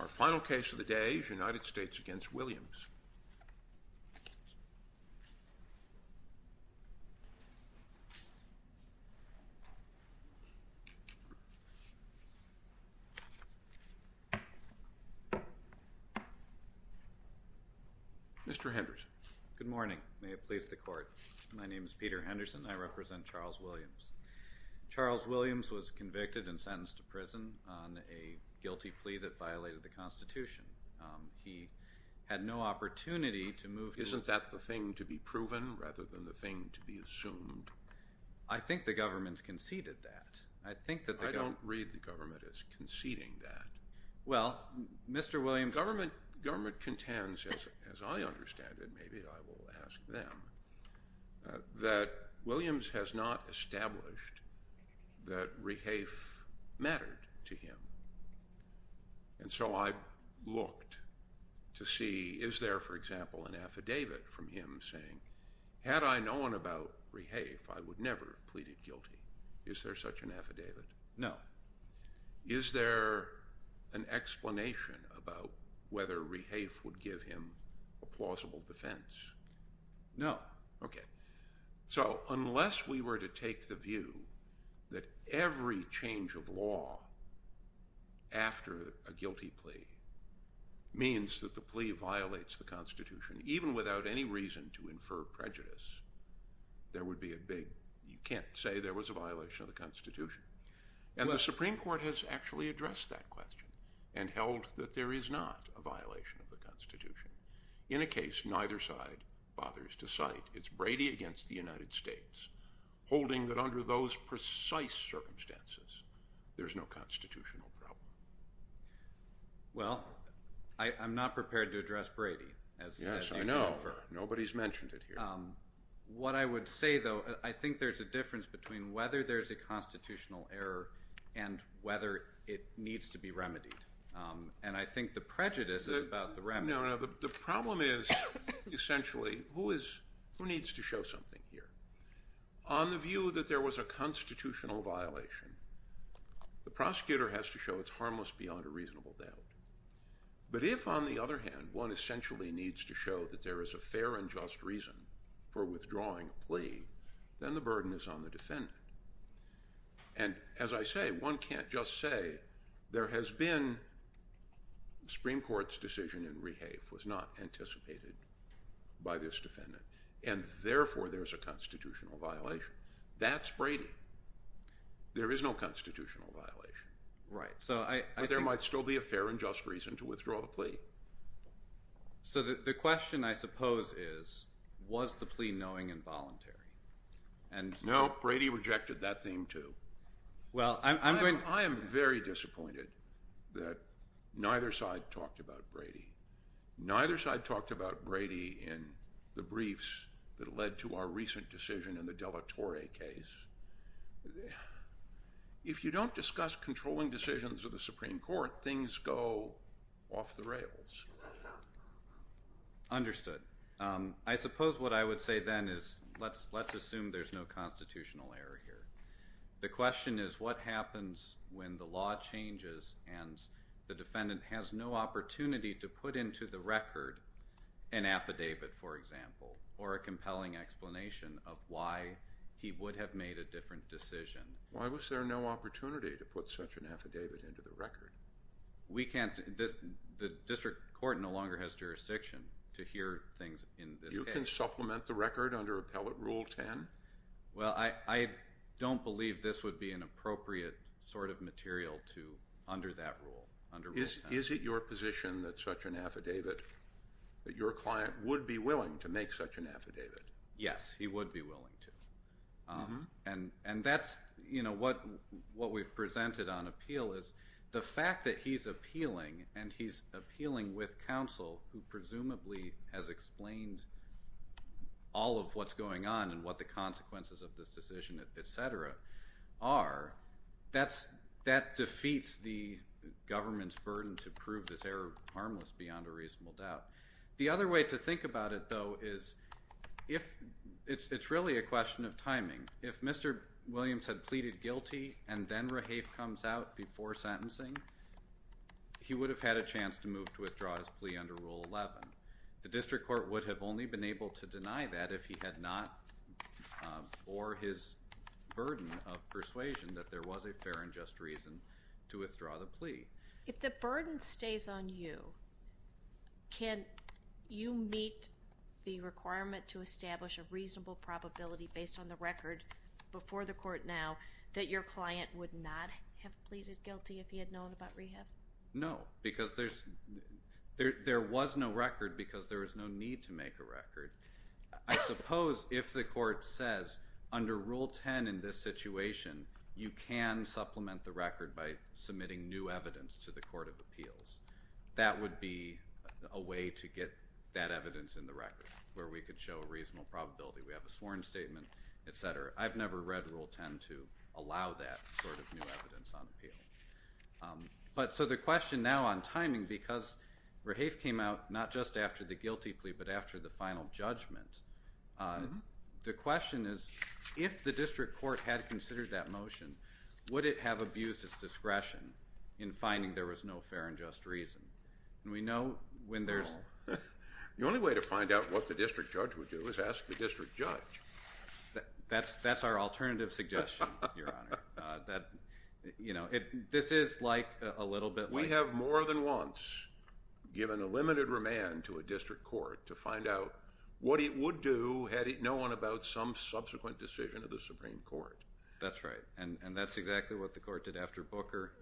Our final case of the day is United States v. Williams. Mr. Henderson. Good morning. May it please the Court. My name is Peter Henderson and I represent Charles Williams. Charles Williams was convicted and sentenced to prison on a guilty plea that violated the Constitution. He had no opportunity to move to… Isn't that the thing to be proven rather than the thing to be assumed? I think the government conceded that. I think that the government… I don't read the government as conceding that. Well, Mr. Williams… that Rehafe mattered to him. And so I looked to see, is there, for example, an affidavit from him saying, had I known about Rehafe, I would never have pleaded guilty? Is there such an affidavit? No. Is there an explanation about whether Rehafe would give him a plausible defense? No. Okay. So unless we were to take the view that every change of law after a guilty plea means that the plea violates the Constitution, even without any reason to infer prejudice, there would be a big… you can't say there was a violation of the Constitution. And the Supreme Court has actually addressed that question In a case neither side bothers to cite, it's Brady against the United States, holding that under those precise circumstances, there's no constitutional problem. Well, I'm not prepared to address Brady. Yes, I know. Nobody's mentioned it here. What I would say, though, I think there's a difference between whether there's a constitutional error and whether it needs to be remedied. And I think the prejudice is about the remedy. The problem is, essentially, who needs to show something here? On the view that there was a constitutional violation, the prosecutor has to show it's harmless beyond a reasonable doubt. But if, on the other hand, one essentially needs to show that there is a fair and just reason for withdrawing a plea, then the burden is on the defendant. And as I say, one can't just say there has been… the Supreme Court's decision in Rehave was not anticipated by this defendant, and therefore there's a constitutional violation. That's Brady. There is no constitutional violation. But there might still be a fair and just reason to withdraw the plea. So the question, I suppose, is, was the plea knowing and voluntary? No, Brady rejected that theme, too. I am very disappointed that neither side talked about Brady. Neither side talked about Brady in the briefs that led to our recent decision in the de la Torre case. If you don't discuss controlling decisions of the Supreme Court, things go off the rails. Understood. I suppose what I would say then is let's assume there's no constitutional error here. The question is what happens when the law changes and the defendant has no opportunity to put into the record an affidavit, for example, or a compelling explanation of why he would have made a different decision. Why was there no opportunity to put such an affidavit into the record? The district court no longer has jurisdiction to hear things in this case. You can supplement the record under Appellate Rule 10? Well, I don't believe this would be an appropriate sort of material under that rule, under Rule 10. Is it your position that such an affidavit, that your client would be willing to make such an affidavit? Yes, he would be willing to. And that's what we've presented on appeal is the fact that he's appealing, and he's appealing with counsel who presumably has explained all of what's going on and what the consequences of this decision, et cetera, are. That defeats the government's burden to prove this error harmless beyond a reasonable doubt. The other way to think about it, though, is it's really a question of timing. If Mr. Williams had pleaded guilty and then Rahafe comes out before sentencing, he would have had a chance to move to withdraw his plea under Rule 11. The district court would have only been able to deny that if he had not, or his burden of persuasion that there was a fair and just reason to withdraw the plea. If the burden stays on you, can you meet the requirement to establish a reasonable probability based on the record before the court now that your client would not have pleaded guilty if he had known about Rahafe? No, because there was no record because there was no need to make a record. I suppose if the court says under Rule 10 in this situation, you can supplement the record by submitting new evidence to the court of appeals. That would be a way to get that evidence in the record where we could show a reasonable probability. We have a sworn statement, et cetera. I've never read Rule 10 to allow that sort of new evidence on appeal. So the question now on timing, because Rahafe came out not just after the guilty plea but after the final judgment, the question is, if the district court had considered that motion, would it have abused its discretion in finding there was no fair and just reason? No. The only way to find out what the district judge would do is ask the district judge. That's our alternative suggestion, Your Honor. This is like a little bit like— We have more than once given a limited remand to a district court to find out what it would do had it known about some subsequent decision of the Supreme Court. That's right, and that's exactly what the court did after Booker.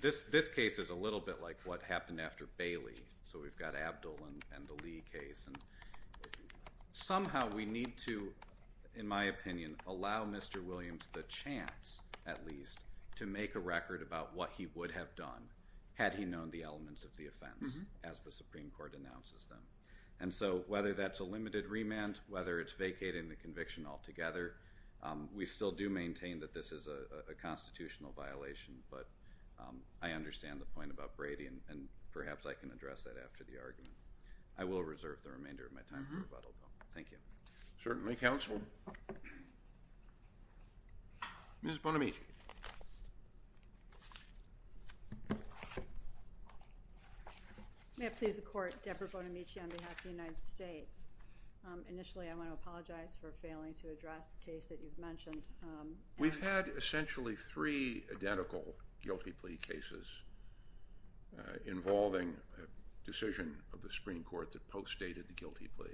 This case is a little bit like what happened after Bailey. So we've got Abdul and the Lee case. Somehow we need to, in my opinion, allow Mr. Williams the chance, at least, to make a record about what he would have done had he known the elements of the offense as the Supreme Court announces them. And so whether that's a limited remand, whether it's vacating the conviction altogether, we still do maintain that this is a constitutional violation, but I understand the point about Brady, and perhaps I can address that after the argument. I will reserve the remainder of my time for rebuttal, though. Thank you. Certainly, counsel. Ms. Bonamici. Thank you. May it please the Court, Deborah Bonamici on behalf of the United States. Initially, I want to apologize for failing to address the case that you've mentioned. We've had essentially three identical guilty plea cases involving a decision of the Supreme Court that post-stated the guilty plea.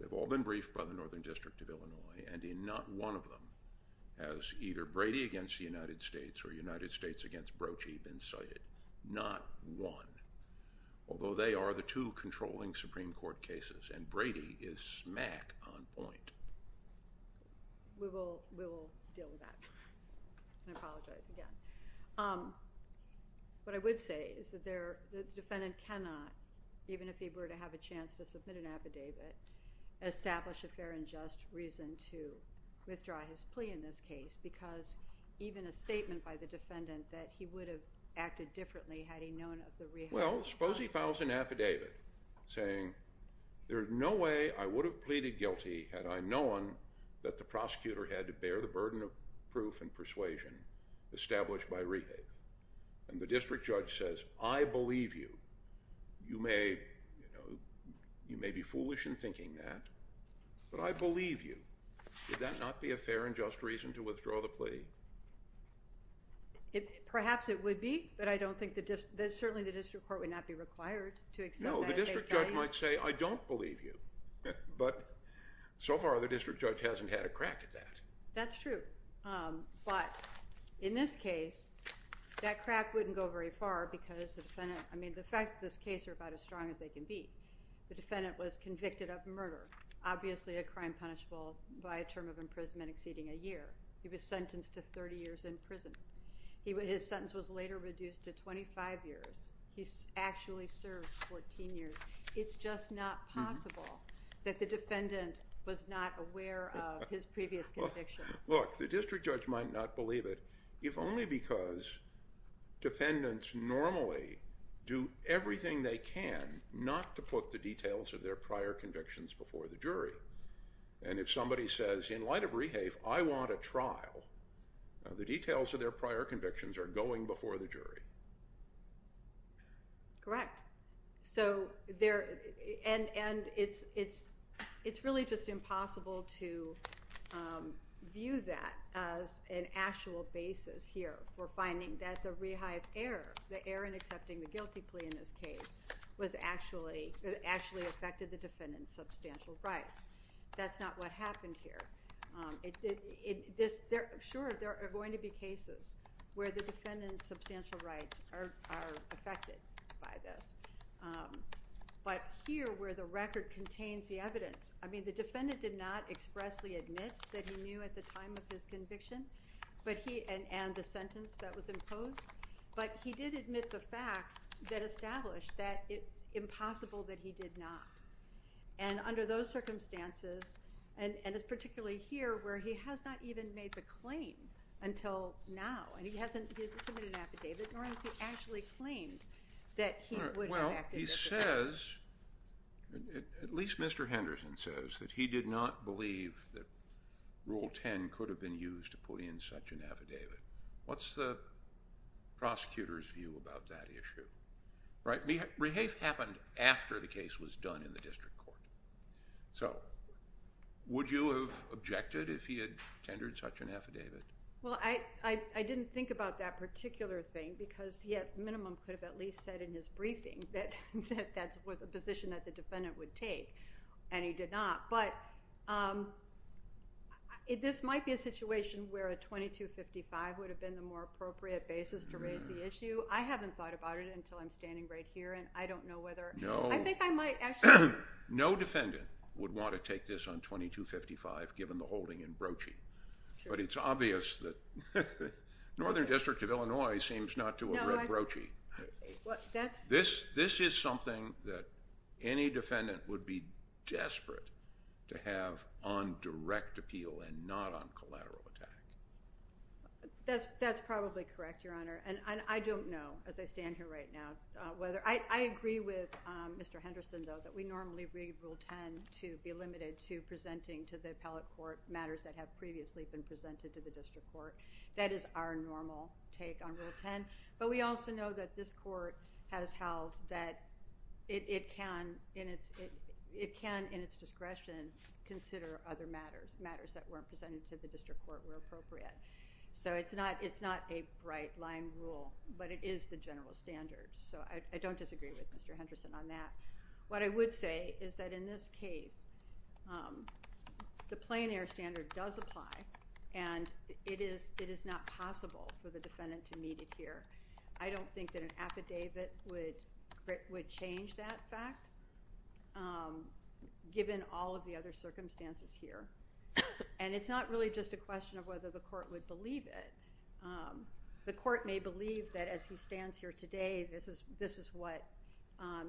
They've all been briefed by the Northern District of Illinois, and in not one of them has either Brady against the United States or United States against Brochie been cited. Not one. Although they are the two controlling Supreme Court cases, and Brady is smack on point. We will deal with that. I apologize again. What I would say is that the defendant cannot, even if he were to have a chance to submit an affidavit, establish a fair and just reason to withdraw his plea in this case because even a statement by the defendant that he would have acted differently had he known of the rehabilitation. Well, suppose he files an affidavit saying, there is no way I would have pleaded guilty had I known that the prosecutor had to bear the burden of proof and persuasion established by rehab. And the district judge says, I believe you. You may be foolish in thinking that, but I believe you. Would that not be a fair and just reason to withdraw the plea? Perhaps it would be, but I don't think the district, certainly the district court would not be required to accept that. No, the district judge might say, I don't believe you. But so far the district judge hasn't had a crack at that. That's true. But in this case, that crack wouldn't go very far because the defendant, I mean the facts of this case are about as strong as they can be. The defendant was convicted of murder, obviously a crime punishable by a term of imprisonment exceeding a year. He was sentenced to 30 years in prison. His sentence was later reduced to 25 years. He actually served 14 years. It's just not possible that the defendant was not aware of his previous conviction. Look, the district judge might not believe it, if only because defendants normally do everything they can not to put the details of their prior convictions before the jury. And if somebody says, in light of Rehafe, I want a trial, the details of their prior convictions are going before the jury. Correct. And it's really just impossible to view that as an actual basis here for finding that the Rehafe error, the error in accepting the guilty plea in this case, was actually affected the defendant's substantial rights. That's not what happened here. Sure, there are going to be cases where the defendant's substantial rights are affected by this. But here, where the record contains the evidence, I mean, the defendant did not expressly admit that he knew at the time of his conviction, and the sentence that was imposed, but he did admit the facts that established that it's impossible that he did not. And under those circumstances, and it's particularly here where he has not even made the claim until now, and he hasn't submitted an affidavit, nor has he actually claimed that he would have acted this way. Well, he says, at least Mr. Henderson says, that he did not believe that Rule 10 could have been used to put in such an affidavit. What's the prosecutor's view about that issue? Rehafe happened after the case was done in the district court. So would you have objected if he had tendered such an affidavit? Well, I didn't think about that particular thing because he at minimum could have at least said in his briefing that that's a position that the defendant would take, and he did not. But this might be a situation where a 2255 would have been the more appropriate basis to raise the issue. I haven't thought about it until I'm standing right here, and I don't know whether— No. I think I might actually— No defendant would want to take this on 2255 given the holding in Brochie. But it's obvious that Northern District of Illinois seems not to have read Brochie. No, I— This is something that any defendant would be desperate to have on direct appeal and not on collateral attack. That's probably correct, Your Honor. And I don't know as I stand here right now whether— I agree with Mr. Henderson, though, that we normally read Rule 10 to be limited to presenting to the appellate court matters that have previously been presented to the district court. That is our normal take on Rule 10. But we also know that this court has held that it can in its discretion consider other matters, matters that weren't presented to the district court where appropriate. So it's not a bright-line rule, but it is the general standard. So I don't disagree with Mr. Henderson on that. What I would say is that in this case, the plein air standard does apply, and it is not possible for the defendant to meet it here. I don't think that an affidavit would change that fact. Given all of the other circumstances here. And it's not really just a question of whether the court would believe it. The court may believe that as he stands here today, this is what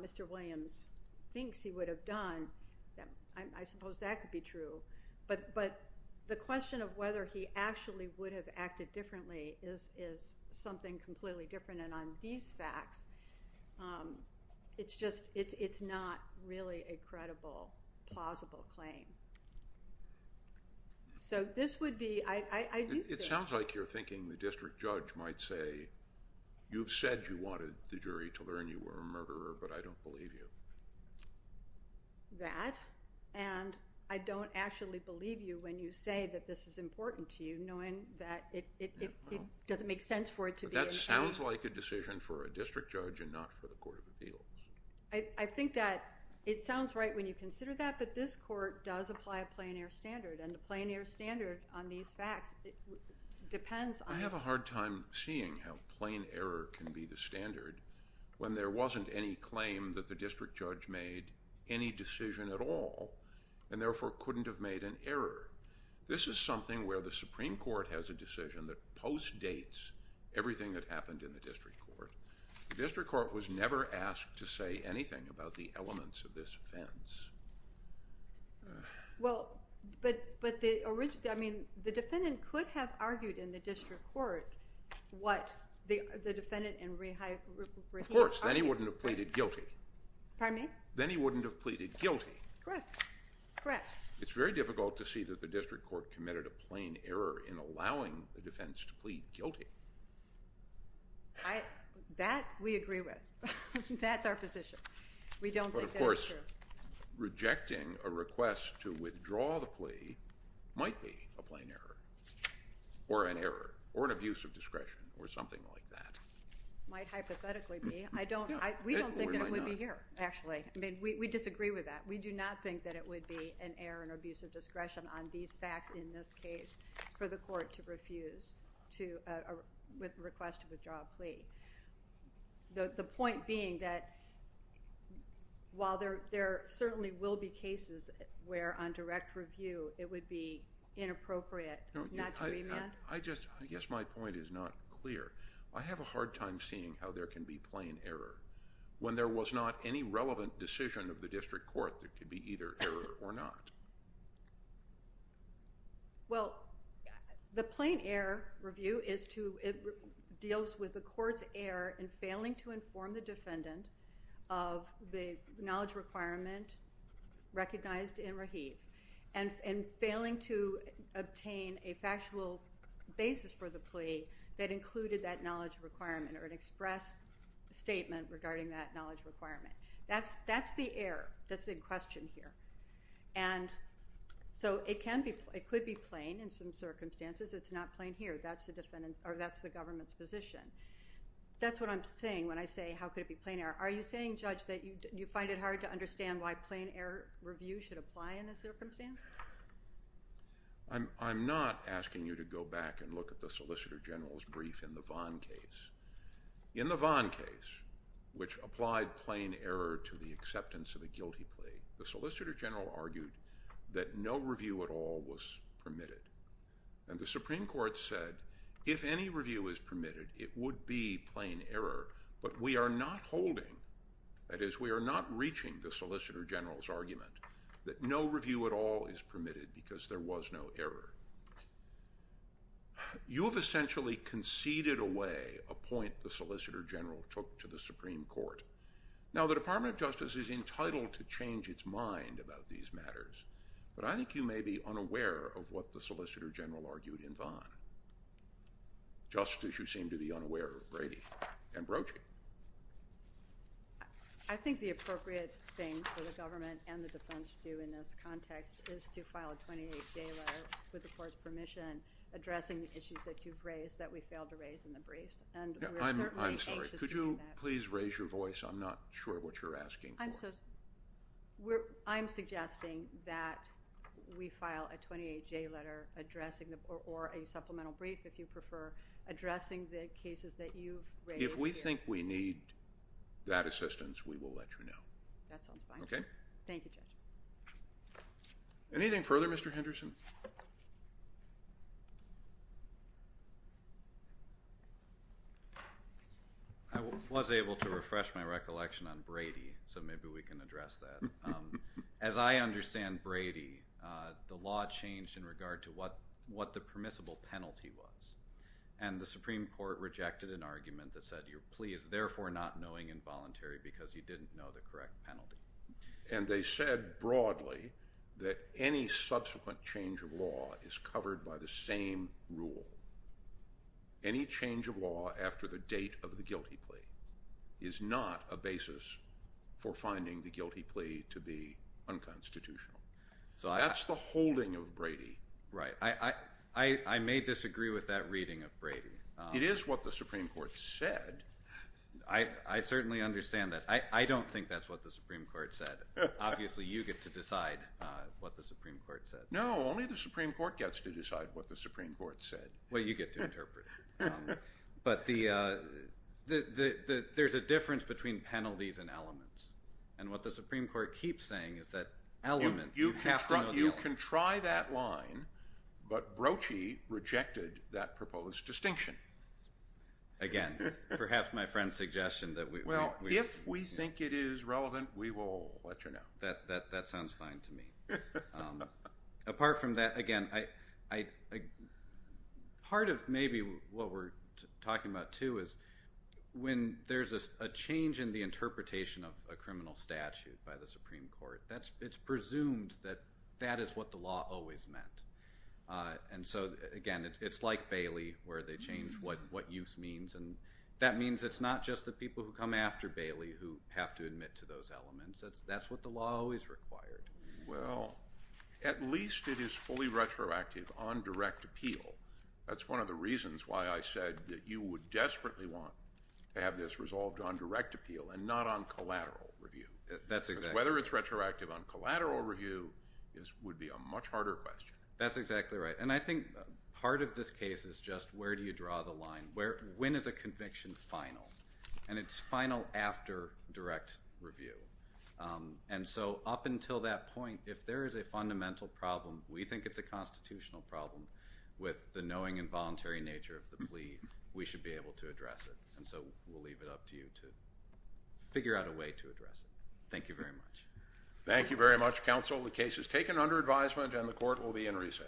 Mr. Williams thinks he would have done. I suppose that could be true. But the question of whether he actually would have acted differently is something completely different. And on these facts, it's just, it's not really a credible, plausible claim. So this would be, I do think. It sounds like you're thinking the district judge might say, you've said you wanted the jury to learn you were a murderer, but I don't believe you. That, and I don't actually believe you when you say that this is important to you, knowing that it doesn't make sense for it to be. It sounds like a decision for a district judge and not for the Court of Appeals. I think that it sounds right when you consider that, but this court does apply a plein air standard. And the plein air standard on these facts depends on. I have a hard time seeing how plein air can be the standard when there wasn't any claim that the district judge made any decision at all. And therefore couldn't have made an error. This is something where the Supreme Court has a decision that post-dates everything that happened in the district court. The district court was never asked to say anything about the elements of this offense. Well, but the original, I mean, the defendant could have argued in the district court what the defendant and Rehia argued. Of course, then he wouldn't have pleaded guilty. Pardon me? Then he wouldn't have pleaded guilty. Correct, correct. It's very difficult to see that the district court committed a plein air in allowing the defense to plead guilty. That we agree with. That's our position. We don't think that's true. But, of course, rejecting a request to withdraw the plea might be a plein air or an error or an abuse of discretion or something like that. It might hypothetically be. We don't think that it would be here, actually. I mean, we disagree with that. We do not think that it would be an error or an abuse of discretion on these facts in this case for the court to refuse to request to withdraw a plea. The point being that while there certainly will be cases where on direct review it would be inappropriate not to remand. I guess my point is not clear. I have a hard time seeing how there can be plein air when there was not any relevant decision of the district court that could be either error or not. Well, the plein air review deals with the court's error in failing to inform the defendant of the knowledge requirement recognized in Rahib and failing to obtain a factual basis for the plea that included that knowledge requirement or an express statement regarding that knowledge requirement. That's the error that's in question here. And so it could be plein in some circumstances. It's not plein here. That's the government's position. That's what I'm saying when I say how could it be plein air. Are you saying, Judge, that you find it hard to understand why plein air review should apply in this circumstance? I'm not asking you to go back and look at the Solicitor General's brief in the Vaughn case. In the Vaughn case, which applied plein air to the acceptance of a guilty plea, the Solicitor General argued that no review at all was permitted. And the Supreme Court said if any review is permitted, it would be plein air. But we are not holding, that is we are not reaching the Solicitor General's argument, that no review at all is permitted because there was no error. You have essentially conceded away a point the Solicitor General took to the Supreme Court. Now, the Department of Justice is entitled to change its mind about these matters, but I think you may be unaware of what the Solicitor General argued in Vaughn, just as you seem to be unaware of Brady and Broachie. I think the appropriate thing for the government and the defense to do in this context is to file a 28-J letter with the court's permission addressing the issues that you've raised that we failed to raise in the briefs, and we're certainly anxious to do that. I'm sorry. Could you please raise your voice? I'm not sure what you're asking for. I'm suggesting that we file a 28-J letter addressing, or a supplemental brief if you prefer, addressing the cases that you've raised here. If we think we need that assistance, we will let you know. That sounds fine. Okay? Thank you, Judge. Anything further, Mr. Henderson? I was able to refresh my recollection on Brady, so maybe we can address that. As I understand Brady, the law changed in regard to what the permissible penalty was, and the Supreme Court rejected an argument that said you're pleased, therefore not knowing involuntary because you didn't know the correct penalty. And they said broadly that any subsequent change of law is covered by the same rule. Any change of law after the date of the guilty plea is not a basis for finding the guilty plea to be unconstitutional. That's the holding of Brady. Right. I may disagree with that reading of Brady. It is what the Supreme Court said. I certainly understand that. I don't think that's what the Supreme Court said. Obviously, you get to decide what the Supreme Court said. No, only the Supreme Court gets to decide what the Supreme Court said. Well, you get to interpret it. But there's a difference between penalties and elements, and what the Supreme Court keeps saying is that element, you have to know the element. You can try that line, but Brochie rejected that proposed distinction. Again, perhaps my friend's suggestion that we – Well, if we think it is relevant, we will let you know. That sounds fine to me. Apart from that, again, part of maybe what we're talking about, too, is when there's a change in the interpretation of a criminal statute by the Supreme Court, it's presumed that that is what the law always meant. And so, again, it's like Bailey where they change what use means, and that means it's not just the people who come after Bailey who have to admit to those elements. That's what the law always required. Well, at least it is fully retroactive on direct appeal. That's one of the reasons why I said that you would desperately want to have this resolved on direct appeal and not on collateral review. That's exactly right. Whether it's retroactive on collateral review would be a much harder question. That's exactly right. And I think part of this case is just where do you draw the line. When is a conviction final? And it's final after direct review. And so up until that point, if there is a fundamental problem, we think it's a constitutional problem with the knowing and voluntary nature of the plea, we should be able to address it. And so we'll leave it up to you to figure out a way to address it. Thank you very much. Thank you very much, counsel. The case is taken under advisement and the court will be in recess. Thank you.